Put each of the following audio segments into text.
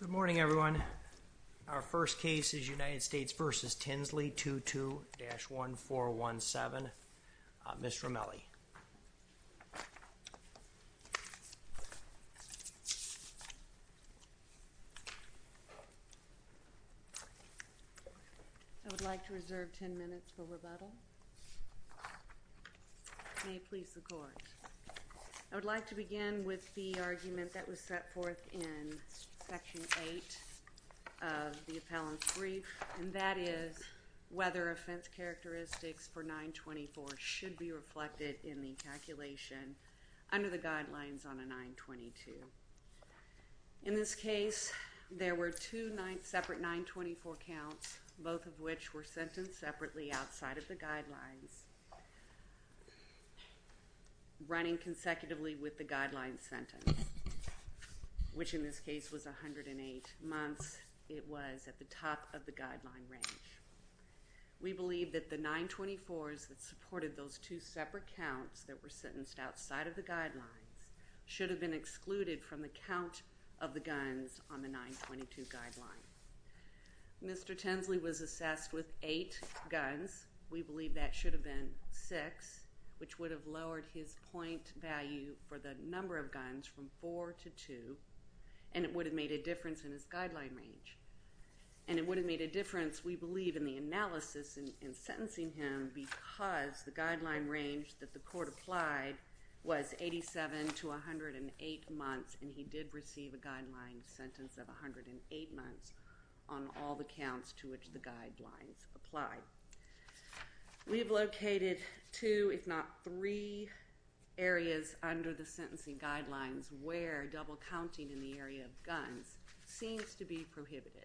Good morning, everyone. Our first case is United States v. Tinsley, 22-1417. Ms. Ramelli. I would like to reserve 10 minutes for rebuttal. May it please the court. I would like to begin with the argument that was set forth in Section 8 of the appellant's brief, and that is whether offense characteristics for 924 should be reflected in the calculation under the guidelines on a 922. In this case, there were two separate 924 counts, both of which were sentenced separately outside of the guidelines, running consecutively with the guidelines sentence, which in this case was 108 months. It was at the top of the guideline range. We believe that the 924s that supported those two separate counts that were sentenced outside of the guidelines should have been excluded from the count of the guns on the 922 guideline. Mr. Tinsley was assessed with 8 guns. We believe that should have been 6, which would have lowered his point value for the number of guns from 4 to 2, and it would have made a difference in his guideline range. We have located two, if not three, areas under the sentencing guidelines where double counting in the area of guns seems to be prohibited.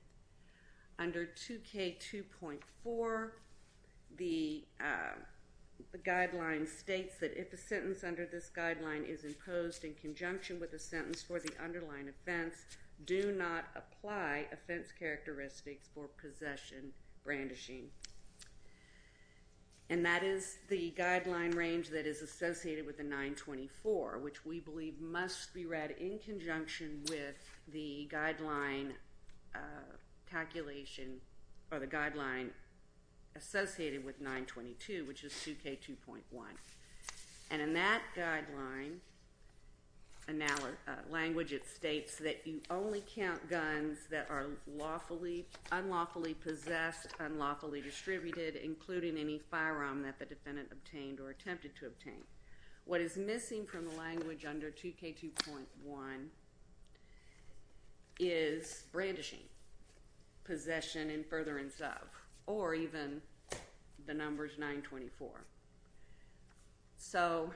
Under 2K2.4, the guideline states that if a sentence under this guideline is imposed in conjunction with a sentence for the underlying offense, do not apply offense characteristics for possession brandishing. That is the guideline range that is associated with the 924, which we believe must be read in conjunction with the guideline associated with 922, which is 2K2.1. In that guideline language, it states that you only count guns that are unlawfully possessed, unlawfully distributed, including any firearm that the defendant obtained or attempted to obtain. What is missing from the language under 2K2.1 is brandishing, possession, and furtherance of, or even the numbers 924. So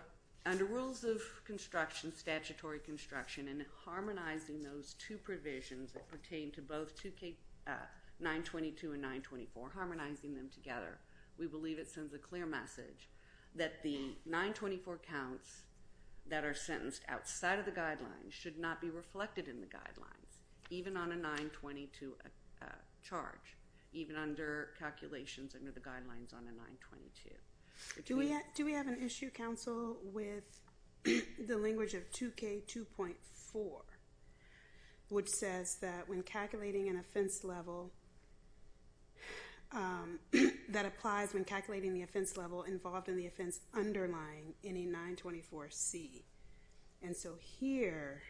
under rules of construction, statutory construction, and harmonizing those two provisions that pertain to both 922 and 924, harmonizing them together, we believe it sends a clear message that the 924 counts that are sentenced outside of the guidelines should not be reflected in the guidelines, even on a 922 charge, even under calculations under the guidelines on a 922. Do we have an issue, counsel, with the language of 2K2.4, which says that when calculating an offense level, that applies when calculating the offense level involved in the offense underlying any 924C. And so here,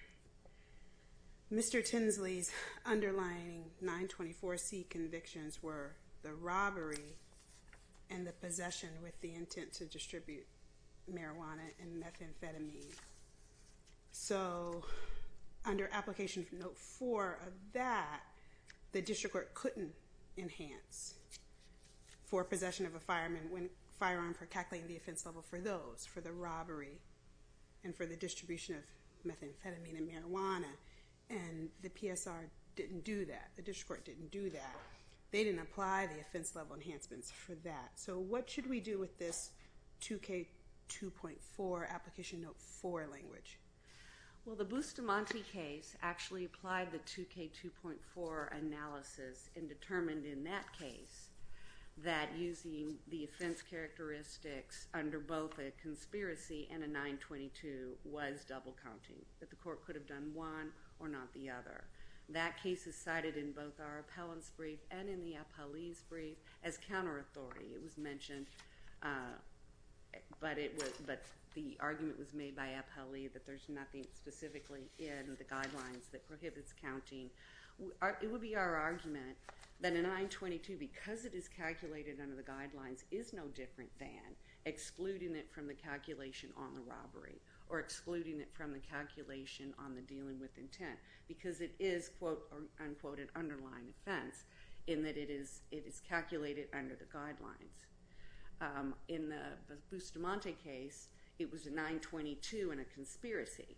Mr. Tinsley's underlying 924C convictions were the robbery and the possession with the intent to distribute marijuana and methamphetamine. So under application from Note 4 of that, the district court couldn't enhance for possession of a firearm for calculating the offense level for those, for the robbery and for the distribution of methamphetamine and marijuana, and the PSR didn't do that. They didn't apply the offense level enhancements for that. So what should we do with this 2K2.4 application Note 4 language? Well, the Bustamante case actually applied the 2K2.4 analysis and determined in that case that using the offense characteristics under both a conspiracy and a 922 was double counting, that the court could have done one or not the other. That case is cited in both our appellant's brief and in the appellee's brief as counter-authority. It was mentioned, but the argument was made by appellee that there's nothing specifically in the guidelines that prohibits counting. It would be our argument that a 922, because it is calculated under the guidelines, is no different than excluding it from the calculation on the robbery or excluding it from the calculation on the dealing with intent because it is, quote, unquote, an underlying offense in that it is calculated under the guidelines. In the Bustamante case, it was a 922 and a conspiracy.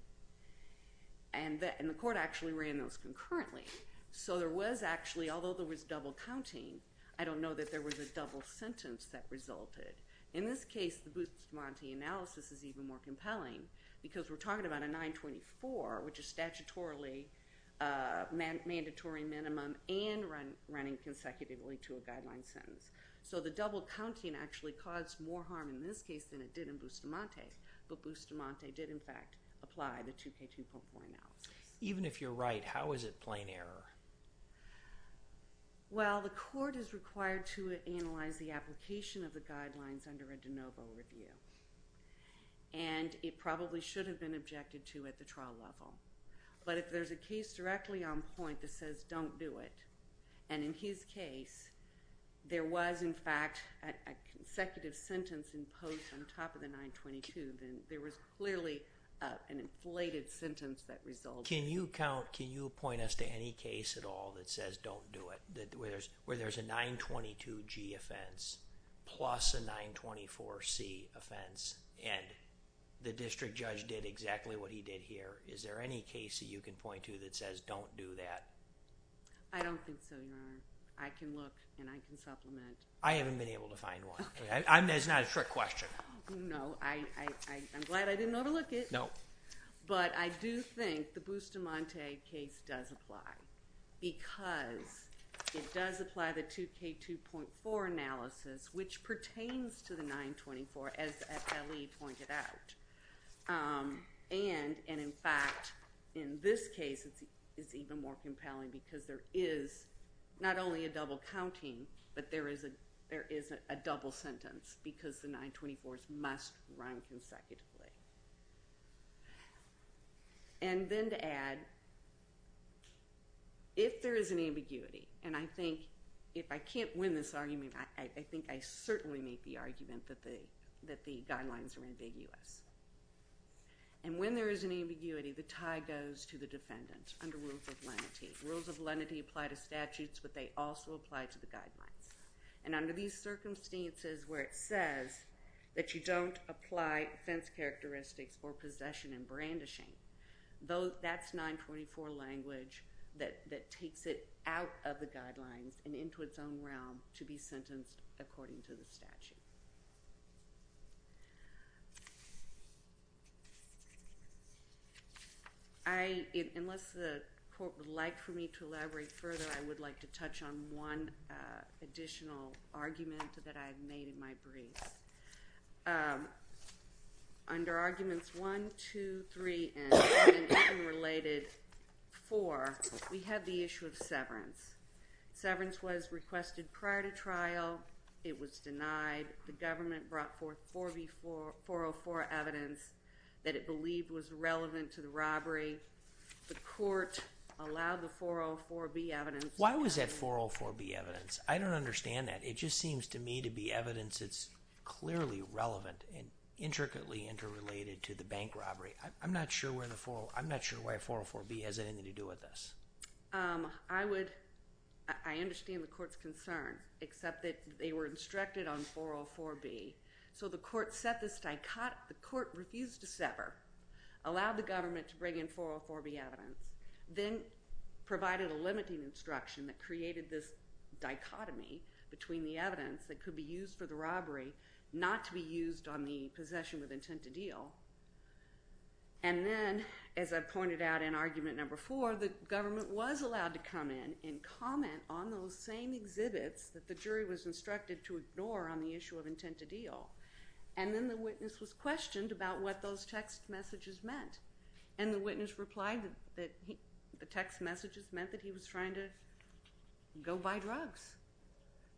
And the court actually ran those concurrently. So there was actually, although there was double counting, I don't know that there was a double sentence that resulted. In this case, the Bustamante analysis is even more compelling because we're talking about a 924, which is statutorily mandatory minimum and running consecutively to a guideline sentence. So the double counting actually caused more harm in this case than it did in Bustamante. But Bustamante did, in fact, apply the 2K2.4 analysis. Even if you're right, how is it plain error? Well, the court is required to analyze the application of the guidelines under a de novo review. And it probably should have been objected to at the trial level. But if there's a case directly on point that says don't do it, and in his case, there was, in fact, a consecutive sentence imposed on top of the 922, then there was clearly an inflated sentence that resulted. Can you point us to any case at all that says don't do it, where there's a 922G offense plus a 924C offense and the district judge did exactly what he did here? Is there any case that you can point to that says don't do that? I don't think so, Your Honor. I can look and I can supplement. I haven't been able to find one. It's not a trick question. No. I'm glad I didn't know to look it. No. But I do think the Bustamante case does apply because it does apply the 2K2.4 analysis, which pertains to the 924, as Ellie pointed out. And, in fact, in this case, it's even more compelling because there is not only a double counting, but there is a double sentence because the 924s must run consecutively. And then to add, if there is an ambiguity, and I think if I can't win this argument, I think I certainly make the argument that the guidelines are ambiguous. And when there is an ambiguity, the tie goes to the defendant under rules of lenity. Rules of lenity apply to statutes, but they also apply to the guidelines. And under these circumstances where it says that you don't apply offense characteristics or possession and brandishing, that's 924 language that takes it out of the guidelines and into its own realm to be sentenced according to the statute. Unless the court would like for me to elaborate further, I would like to touch on one additional argument that I've made in my briefs. Under arguments 1, 2, 3, and even related 4, we have the issue of severance. Severance was requested prior to trial. It was denied. The government brought forth 404 evidence that it believed was relevant to the robbery. The court allowed the 404B evidence. Why was that 404B evidence? I don't understand that. It just seems to me to be evidence that's clearly relevant and intricately interrelated to the bank robbery. I'm not sure why 404B has anything to do with this. I understand the court's concern, except that they were instructed on 404B. So the court refused to sever, allowed the government to bring in 404B evidence, then provided a limiting instruction that created this dichotomy between the evidence that could be used for the robbery not to be used on the possession with intent to deal. And then, as I pointed out in argument number 4, the government was allowed to come in and comment on those same exhibits that the jury was instructed to ignore on the issue of intent to deal. And then the witness was questioned about what those text messages meant. And the witness replied that the text messages meant that he was trying to go buy drugs.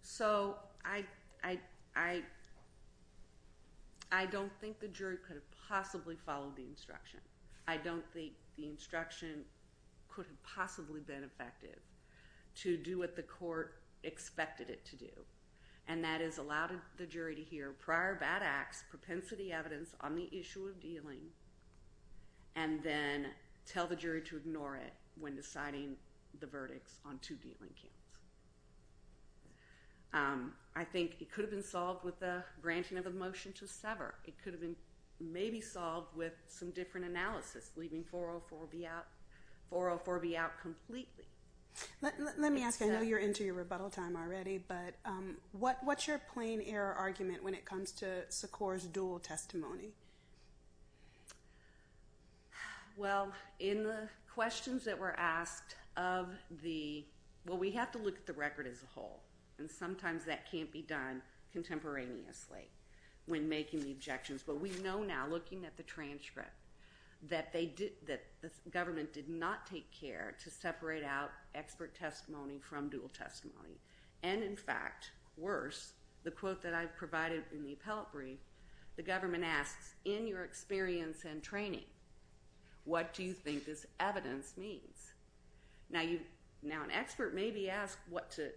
So I don't think the jury could have possibly followed the instruction. I don't think the instruction could have possibly been effective to do what the court expected it to do. And that is allow the jury to hear prior bad acts, propensity evidence on the issue of dealing, and then tell the jury to ignore it when deciding the verdicts on two dealing counts. I think it could have been solved with the granting of a motion to sever. It could have been maybe solved with some different analysis, leaving 404B out completely. Let me ask, I know you're into your rebuttal time already, but what's your plain error argument when it comes to Secor's dual testimony? Well, in the questions that were asked of the, well, we have to look at the record as a whole. And sometimes that can't be done contemporaneously when making the objections. But we know now, looking at the transcript, that the government did not take care to separate out expert testimony from dual testimony. And in fact, worse, the quote that I provided in the appellate brief, the government asks, in your experience and training, what do you think this evidence means? Now, an expert may be asked what to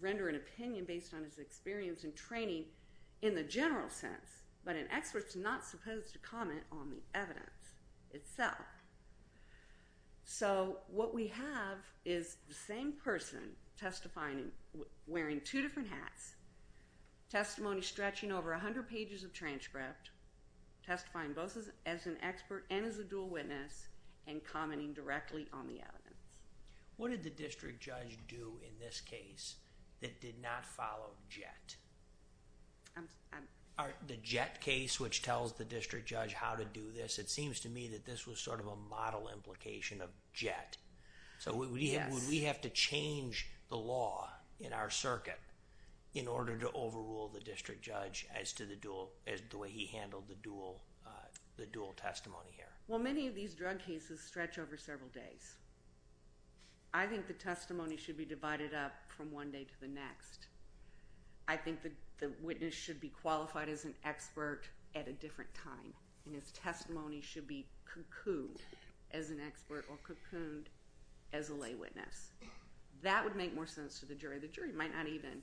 render an opinion based on his experience and training in the general sense, but an expert's not supposed to comment on the evidence itself. So, what we have is the same person testifying, wearing two different hats, testimony stretching over 100 pages of transcript, testifying both as an expert and as a dual witness, and commenting directly on the evidence. What did the district judge do in this case that did not follow JET? The JET case, which tells the district judge how to do this, it seems to me that this was sort of a model implication of JET. So, would we have to change the law in our circuit in order to overrule the district judge as to the way he handled the dual testimony here? Well, many of these drug cases stretch over several days. I think the testimony should be divided up from one day to the next. I think the witness should be qualified as an expert at a different time, and his testimony should be cocooned as an expert or cocooned as a lay witness. That would make more sense to the jury. The jury might not even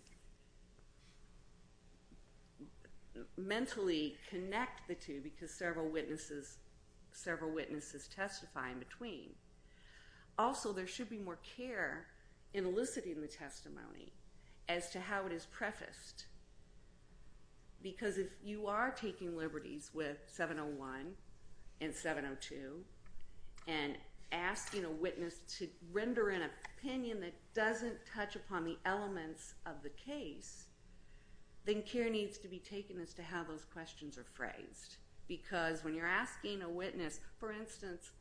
mentally connect the two because several witnesses testify in between. Also, there should be more care in eliciting the testimony as to how it is prefaced. Because if you are taking liberties with 701 and 702 and asking a witness to render an opinion that doesn't touch upon the elements of the case, then care needs to be taken as to how those questions are phrased. Because when you're asking a witness, for instance,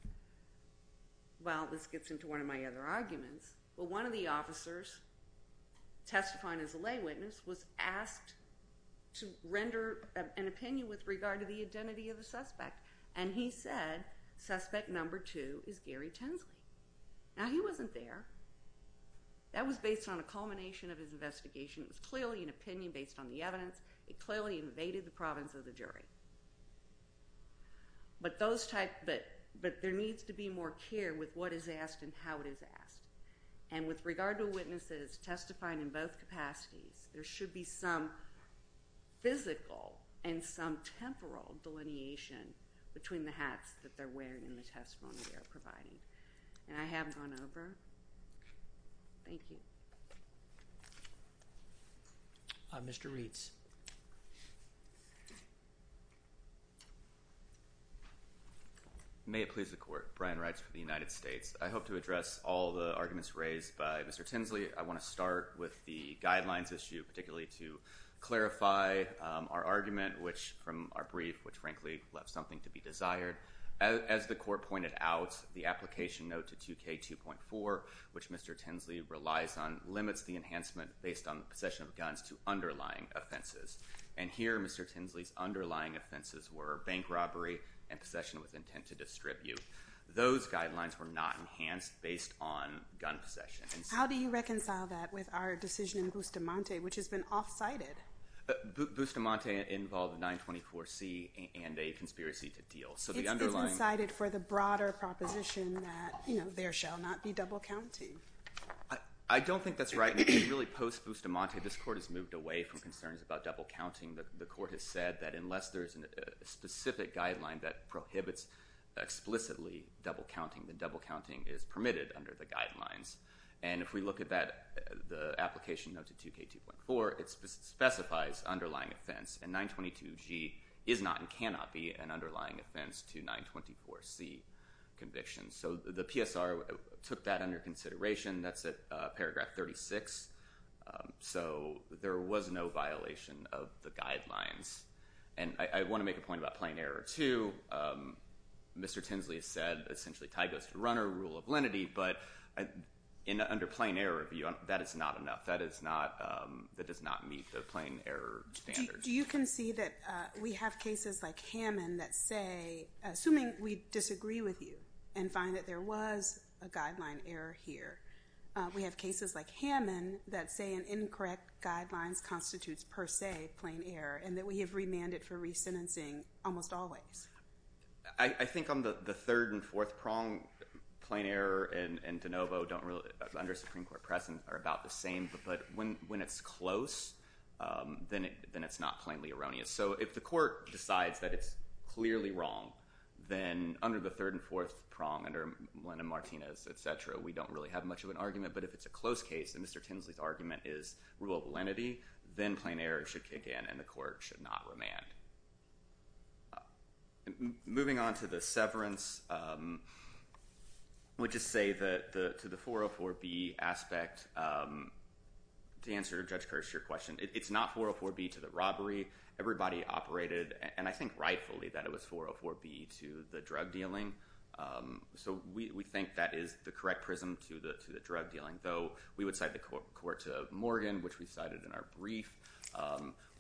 well, this gets into one of my other arguments, but one of the officers testifying as a lay witness was asked to render an opinion with regard to the identity of the suspect. And he said, suspect number two is Gary Tensley. Now, he wasn't there. That was based on a culmination of his investigation. It was clearly an opinion based on the evidence. It clearly invaded the province of the jury. But there needs to be more care with what is asked and how it is asked. And with regard to witnesses testifying in both capacities, there should be some physical and some temporal delineation between the hats that they're wearing and the testimony they're providing. And I have gone over. Thank you. Mr. Reeds. May it please the Court. Brian Reitz for the United States. I hope to address all the arguments raised by Mr. Tensley. I want to start with the guidelines issue, particularly to clarify our argument from our brief, which frankly left something to be desired. As the Court pointed out, the application note to 2K2.4, which Mr. Tensley relies on, limits the enhancement based on possession of guns to underlying offenses. And here, Mr. Tensley's underlying offenses were bank robbery and possession with intent to distribute. Those guidelines were not enhanced based on gun possession. How do you reconcile that with our decision in Bustamante, which has been off-cited? Bustamante involved 924C and a conspiracy to deal. It's been cited for the broader proposition that there shall not be double counting. I don't think that's right. Really, post-Bustamante, this Court has moved away from concerns about double counting. The Court has said that unless there is a specific guideline that prohibits explicitly double counting, then double counting is permitted under the guidelines. And if we look at the application note to 2K2.4, it specifies underlying offense, and 922G is not and cannot be an underlying offense to 924C convictions. So the PSR took that under consideration. That's at paragraph 36. So there was no violation of the guidelines. And I want to make a point about plain error, too. Mr. Tinsley said, essentially, tie goes to runner, rule of lenity. But under plain error, that is not enough. That does not meet the plain error standards. Do you concede that we have cases like Hammond that say, assuming we disagree with you and find that there was a guideline error here, we have cases like Hammond that say an incorrect guidelines constitutes, per se, plain error, and that we have remanded for resentencing almost always? I think on the third and fourth prong, plain error and de novo under Supreme Court presence are about the same. But when it's close, then it's not plainly erroneous. So if the Court decides that it's clearly wrong, then under the third and fourth prong, under Melinda Martinez, et cetera, we don't really have much of an argument. But if it's a close case, and Mr. Tinsley's argument is rule of lenity, then plain error should kick in and the Court should not remand. Moving on to the severance, I would just say that to the 404B aspect, to answer Judge Kirsch's question, it's not 404B to the robbery. Everybody operated, and I think rightfully, that it was 404B to the drug dealing. So we think that is the correct prism to the drug dealing, though we would cite the Court to Morgan, which we cited in our brief.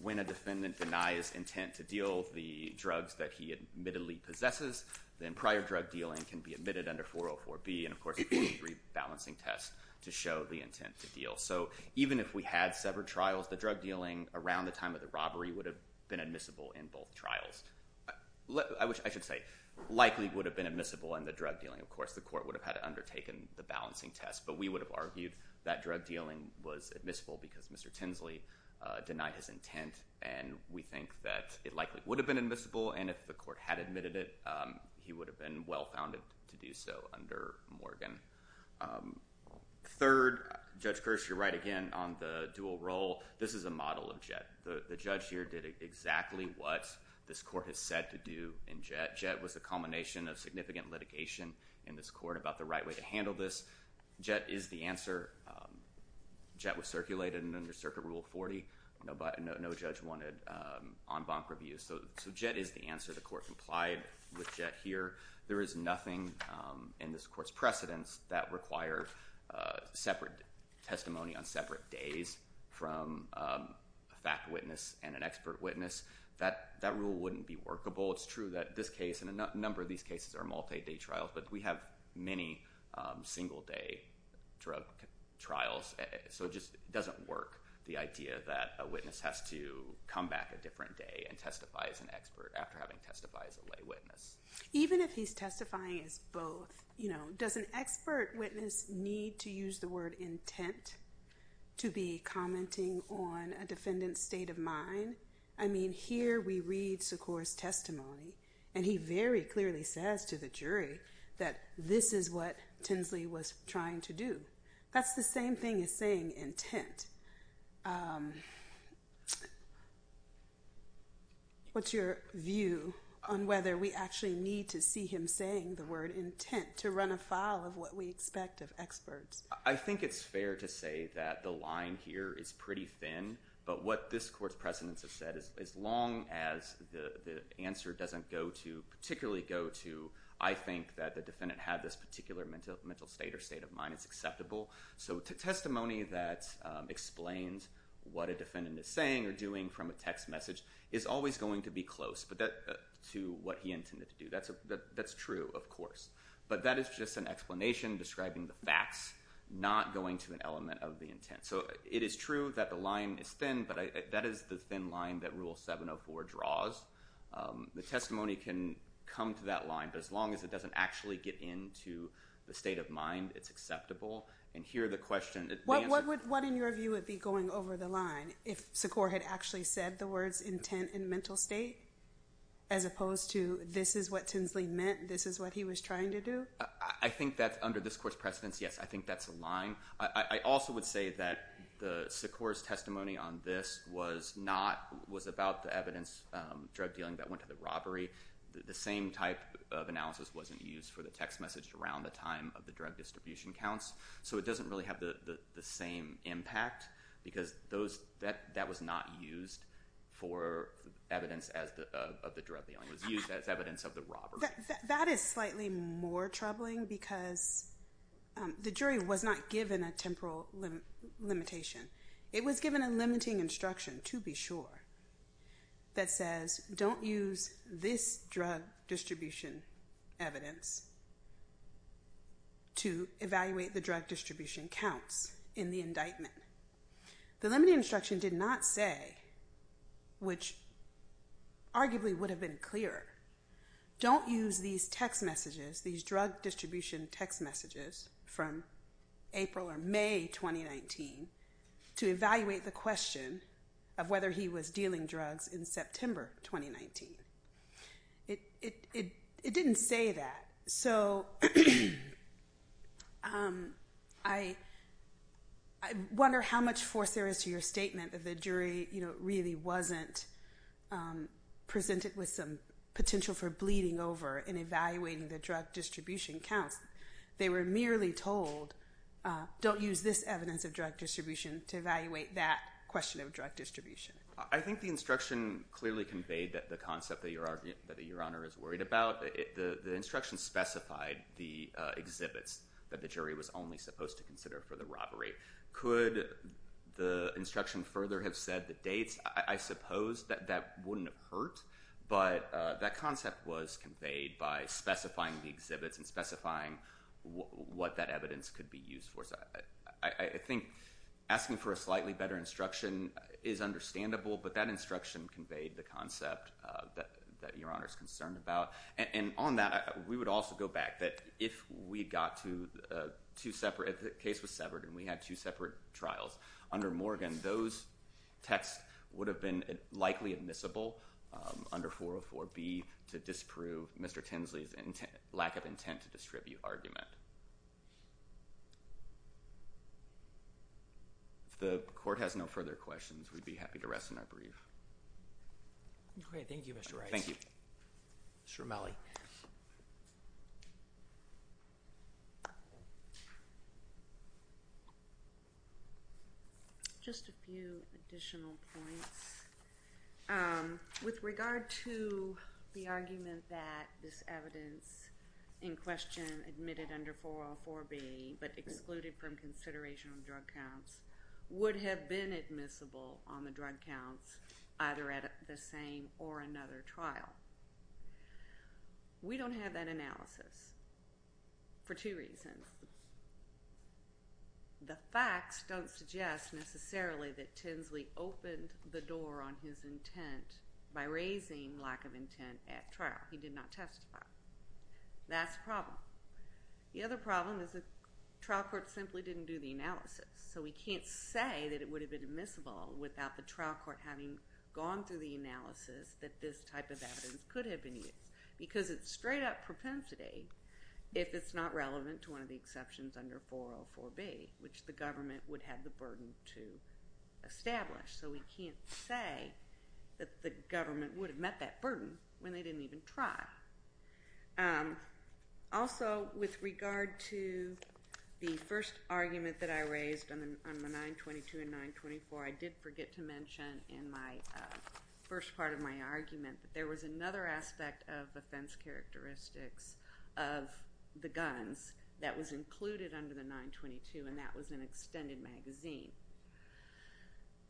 When a defendant denies intent to deal the drugs that he admittedly possesses, then prior drug dealing can be admitted under 404B. And of course, it would be a rebalancing test to show the intent to deal. So even if we had severed trials, the drug dealing around the time of the robbery would have been admissible in both trials. I should say, likely would have been admissible in the drug dealing. Of course, the Court would have had to undertaken the balancing test. But we would have argued that drug dealing was admissible because Mr. Tinsley denied his intent. And we think that it likely would have been admissible, and if the Court had admitted it, he would have been well-founded to do so under Morgan. Third, Judge Kirsch, you're right again on the dual role. This is a model of JETT. The judge here did exactly what this Court has said to do in JETT. JETT was the culmination of significant litigation in this Court about the right way to handle this. So JETT is the answer. JETT was circulated under Circuit Rule 40. No judge wanted en banc reviews. So JETT is the answer. The Court complied with JETT here. There is nothing in this Court's precedence that requires separate testimony on separate days from a fact witness and an expert witness. That rule wouldn't be workable. It's true that this case and a number of these cases are multi-day trials, but we have many single-day drug trials. So it just doesn't work, the idea that a witness has to come back a different day and testify as an expert after having testified as a lay witness. Even if he's testifying as both, you know, does an expert witness need to use the word intent to be commenting on a defendant's state of mind? I mean, here we read Secor's testimony, and he very clearly says to the jury that this is what Tinsley was trying to do. That's the same thing as saying intent. What's your view on whether we actually need to see him saying the word intent to run afoul of what we expect of experts? I think it's fair to say that the line here is pretty thin, but what this Court's precedence has said, as long as the answer doesn't go to, particularly go to, I think that the defendant had this particular mental state or state of mind, it's acceptable. So testimony that explains what a defendant is saying or doing from a text message is always going to be close to what he intended to do. That's true, of course. But that is just an explanation describing the facts, not going to an element of the intent. So it is true that the line is thin, but that is the thin line that Rule 704 draws. The testimony can come to that line, but as long as it doesn't actually get into the state of mind, it's acceptable. What, in your view, would be going over the line if Sikor had actually said the words intent and mental state? As opposed to, this is what Tinsley meant, this is what he was trying to do? Under this Court's precedence, yes, I think that's a line. I also would say that Sikor's testimony on this was about the evidence drug dealing that went to the robbery. The same type of analysis wasn't used for the text message around the time of the drug distribution counts. So it doesn't really have the same impact because that was not used for evidence of the drug dealing. It was used as evidence of the robbery. That is slightly more troubling because the jury was not given a temporal limitation. It was given a limiting instruction, to be sure, that says, don't use this drug distribution evidence to evaluate the drug distribution counts in the indictment. The limiting instruction did not say, which arguably would have been clearer, don't use these text messages, these drug distribution text messages from April or May 2019, to evaluate the question of whether he was dealing drugs in September 2019. It didn't say that. So, I wonder how much force there is to your statement that the jury, you know, really wasn't presented with some potential for bleeding over in evaluating the drug distribution counts. They were merely told, don't use this evidence of drug distribution to evaluate that question of drug distribution. I think the instruction clearly conveyed the concept that Your Honor is worried about. The instruction specified the exhibits that the jury was only supposed to consider for the robbery. Could the instruction further have said the dates? I suppose that wouldn't have hurt, but that concept was conveyed by specifying the exhibits and specifying what that evidence could be used for. I think asking for a slightly better instruction is understandable, but that instruction conveyed the concept that Your Honor is concerned about. And on that, we would also go back that if we got to two separate, if the case was severed and we had two separate trials under Morgan, those texts would have been likely admissible under 404B to disprove Mr. Tinsley's lack of intent to distribute argument. If the court has no further questions, we'd be happy to rest on our brief. Okay. Thank you, Mr. Rice. Thank you. Mr. Romali. Just a few additional points. With regard to the argument that this evidence in question admitted under 404B but excluded from consideration of drug counts would have been admissible on the drug counts either at the same or another trial. We don't have that analysis for two reasons. The facts don't suggest necessarily that Tinsley opened the door on his intent by raising lack of intent at trial. He did not testify. That's the problem. The other problem is the trial court simply didn't do the analysis. So we can't say that it would have been admissible without the trial court having gone through the analysis that this type of evidence could have been used because it's straight up propensity if it's not relevant to one of the exceptions under 404B which the government would have the burden to establish. So we can't say that the government would have met that burden when they didn't even try. Also, with regard to the first argument that I raised on the 922 and 924, I did forget to mention in my first part of my argument that there was another aspect of offense characteristics of the guns that was included under the 922 and that was an extended magazine.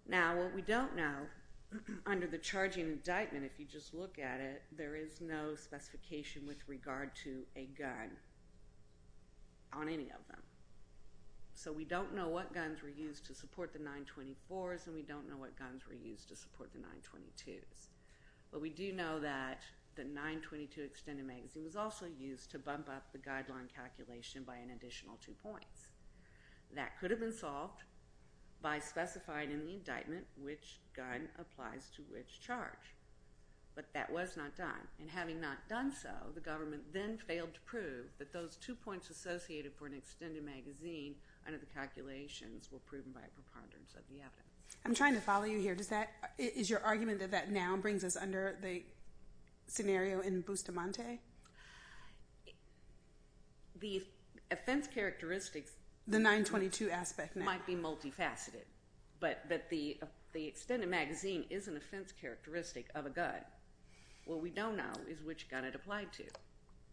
Now, what we don't know under the charging indictment, if you just look at it, there is no specification with regard to a gun on any of them. So we don't know what guns were used to support the 924s and we don't know what guns were used to support the 922s. We do know that the 922 extended magazine was also used to bump up the guideline calculation by an additional two points. That could have been solved by specifying in the indictment which gun applies to which charge. But that was not done. And having not done so, the government then failed to prove that those two points associated for an extended magazine under the calculations were proven by a preponderance of the evidence. I'm trying to follow you here. Is your argument that that now brings us under the scenario in Bustamante? The offense characteristics... The 922 aspect now. ...might be multifaceted. But the extended magazine is an offense characteristic of a gun. What we don't know is which gun it applied to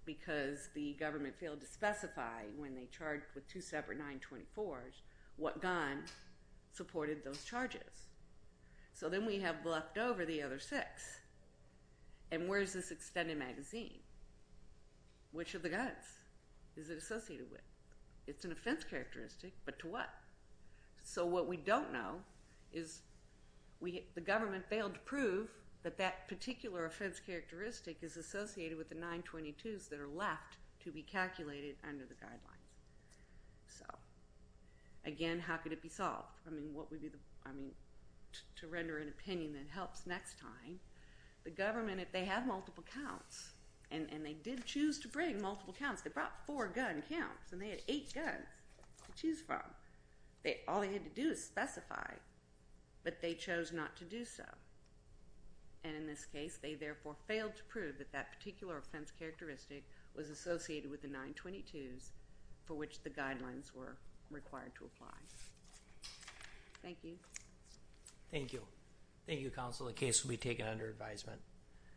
because the government failed to specify when they charged with two separate 924s what gun supported those charges. So then we have left over the other six. And where is this extended magazine? Which of the guns is it associated with? It's an offense characteristic, but to what? So what we don't know is the government failed to prove that that particular offense characteristic is associated with the 922s that are left to be calculated under the guidelines. So, again, how could it be solved? I mean, what would be the... I mean, to render an opinion that helps next time. The government, if they have multiple counts, and they did choose to bring multiple counts, they brought four gun counts, and they had eight guns to choose from. All they had to do is specify, but they chose not to do so. And in this case, they therefore failed to prove that that particular offense characteristic was associated with the 922s for which the guidelines were required to apply. Thank you. Thank you. Thank you, counsel. The case will be taken under advisement.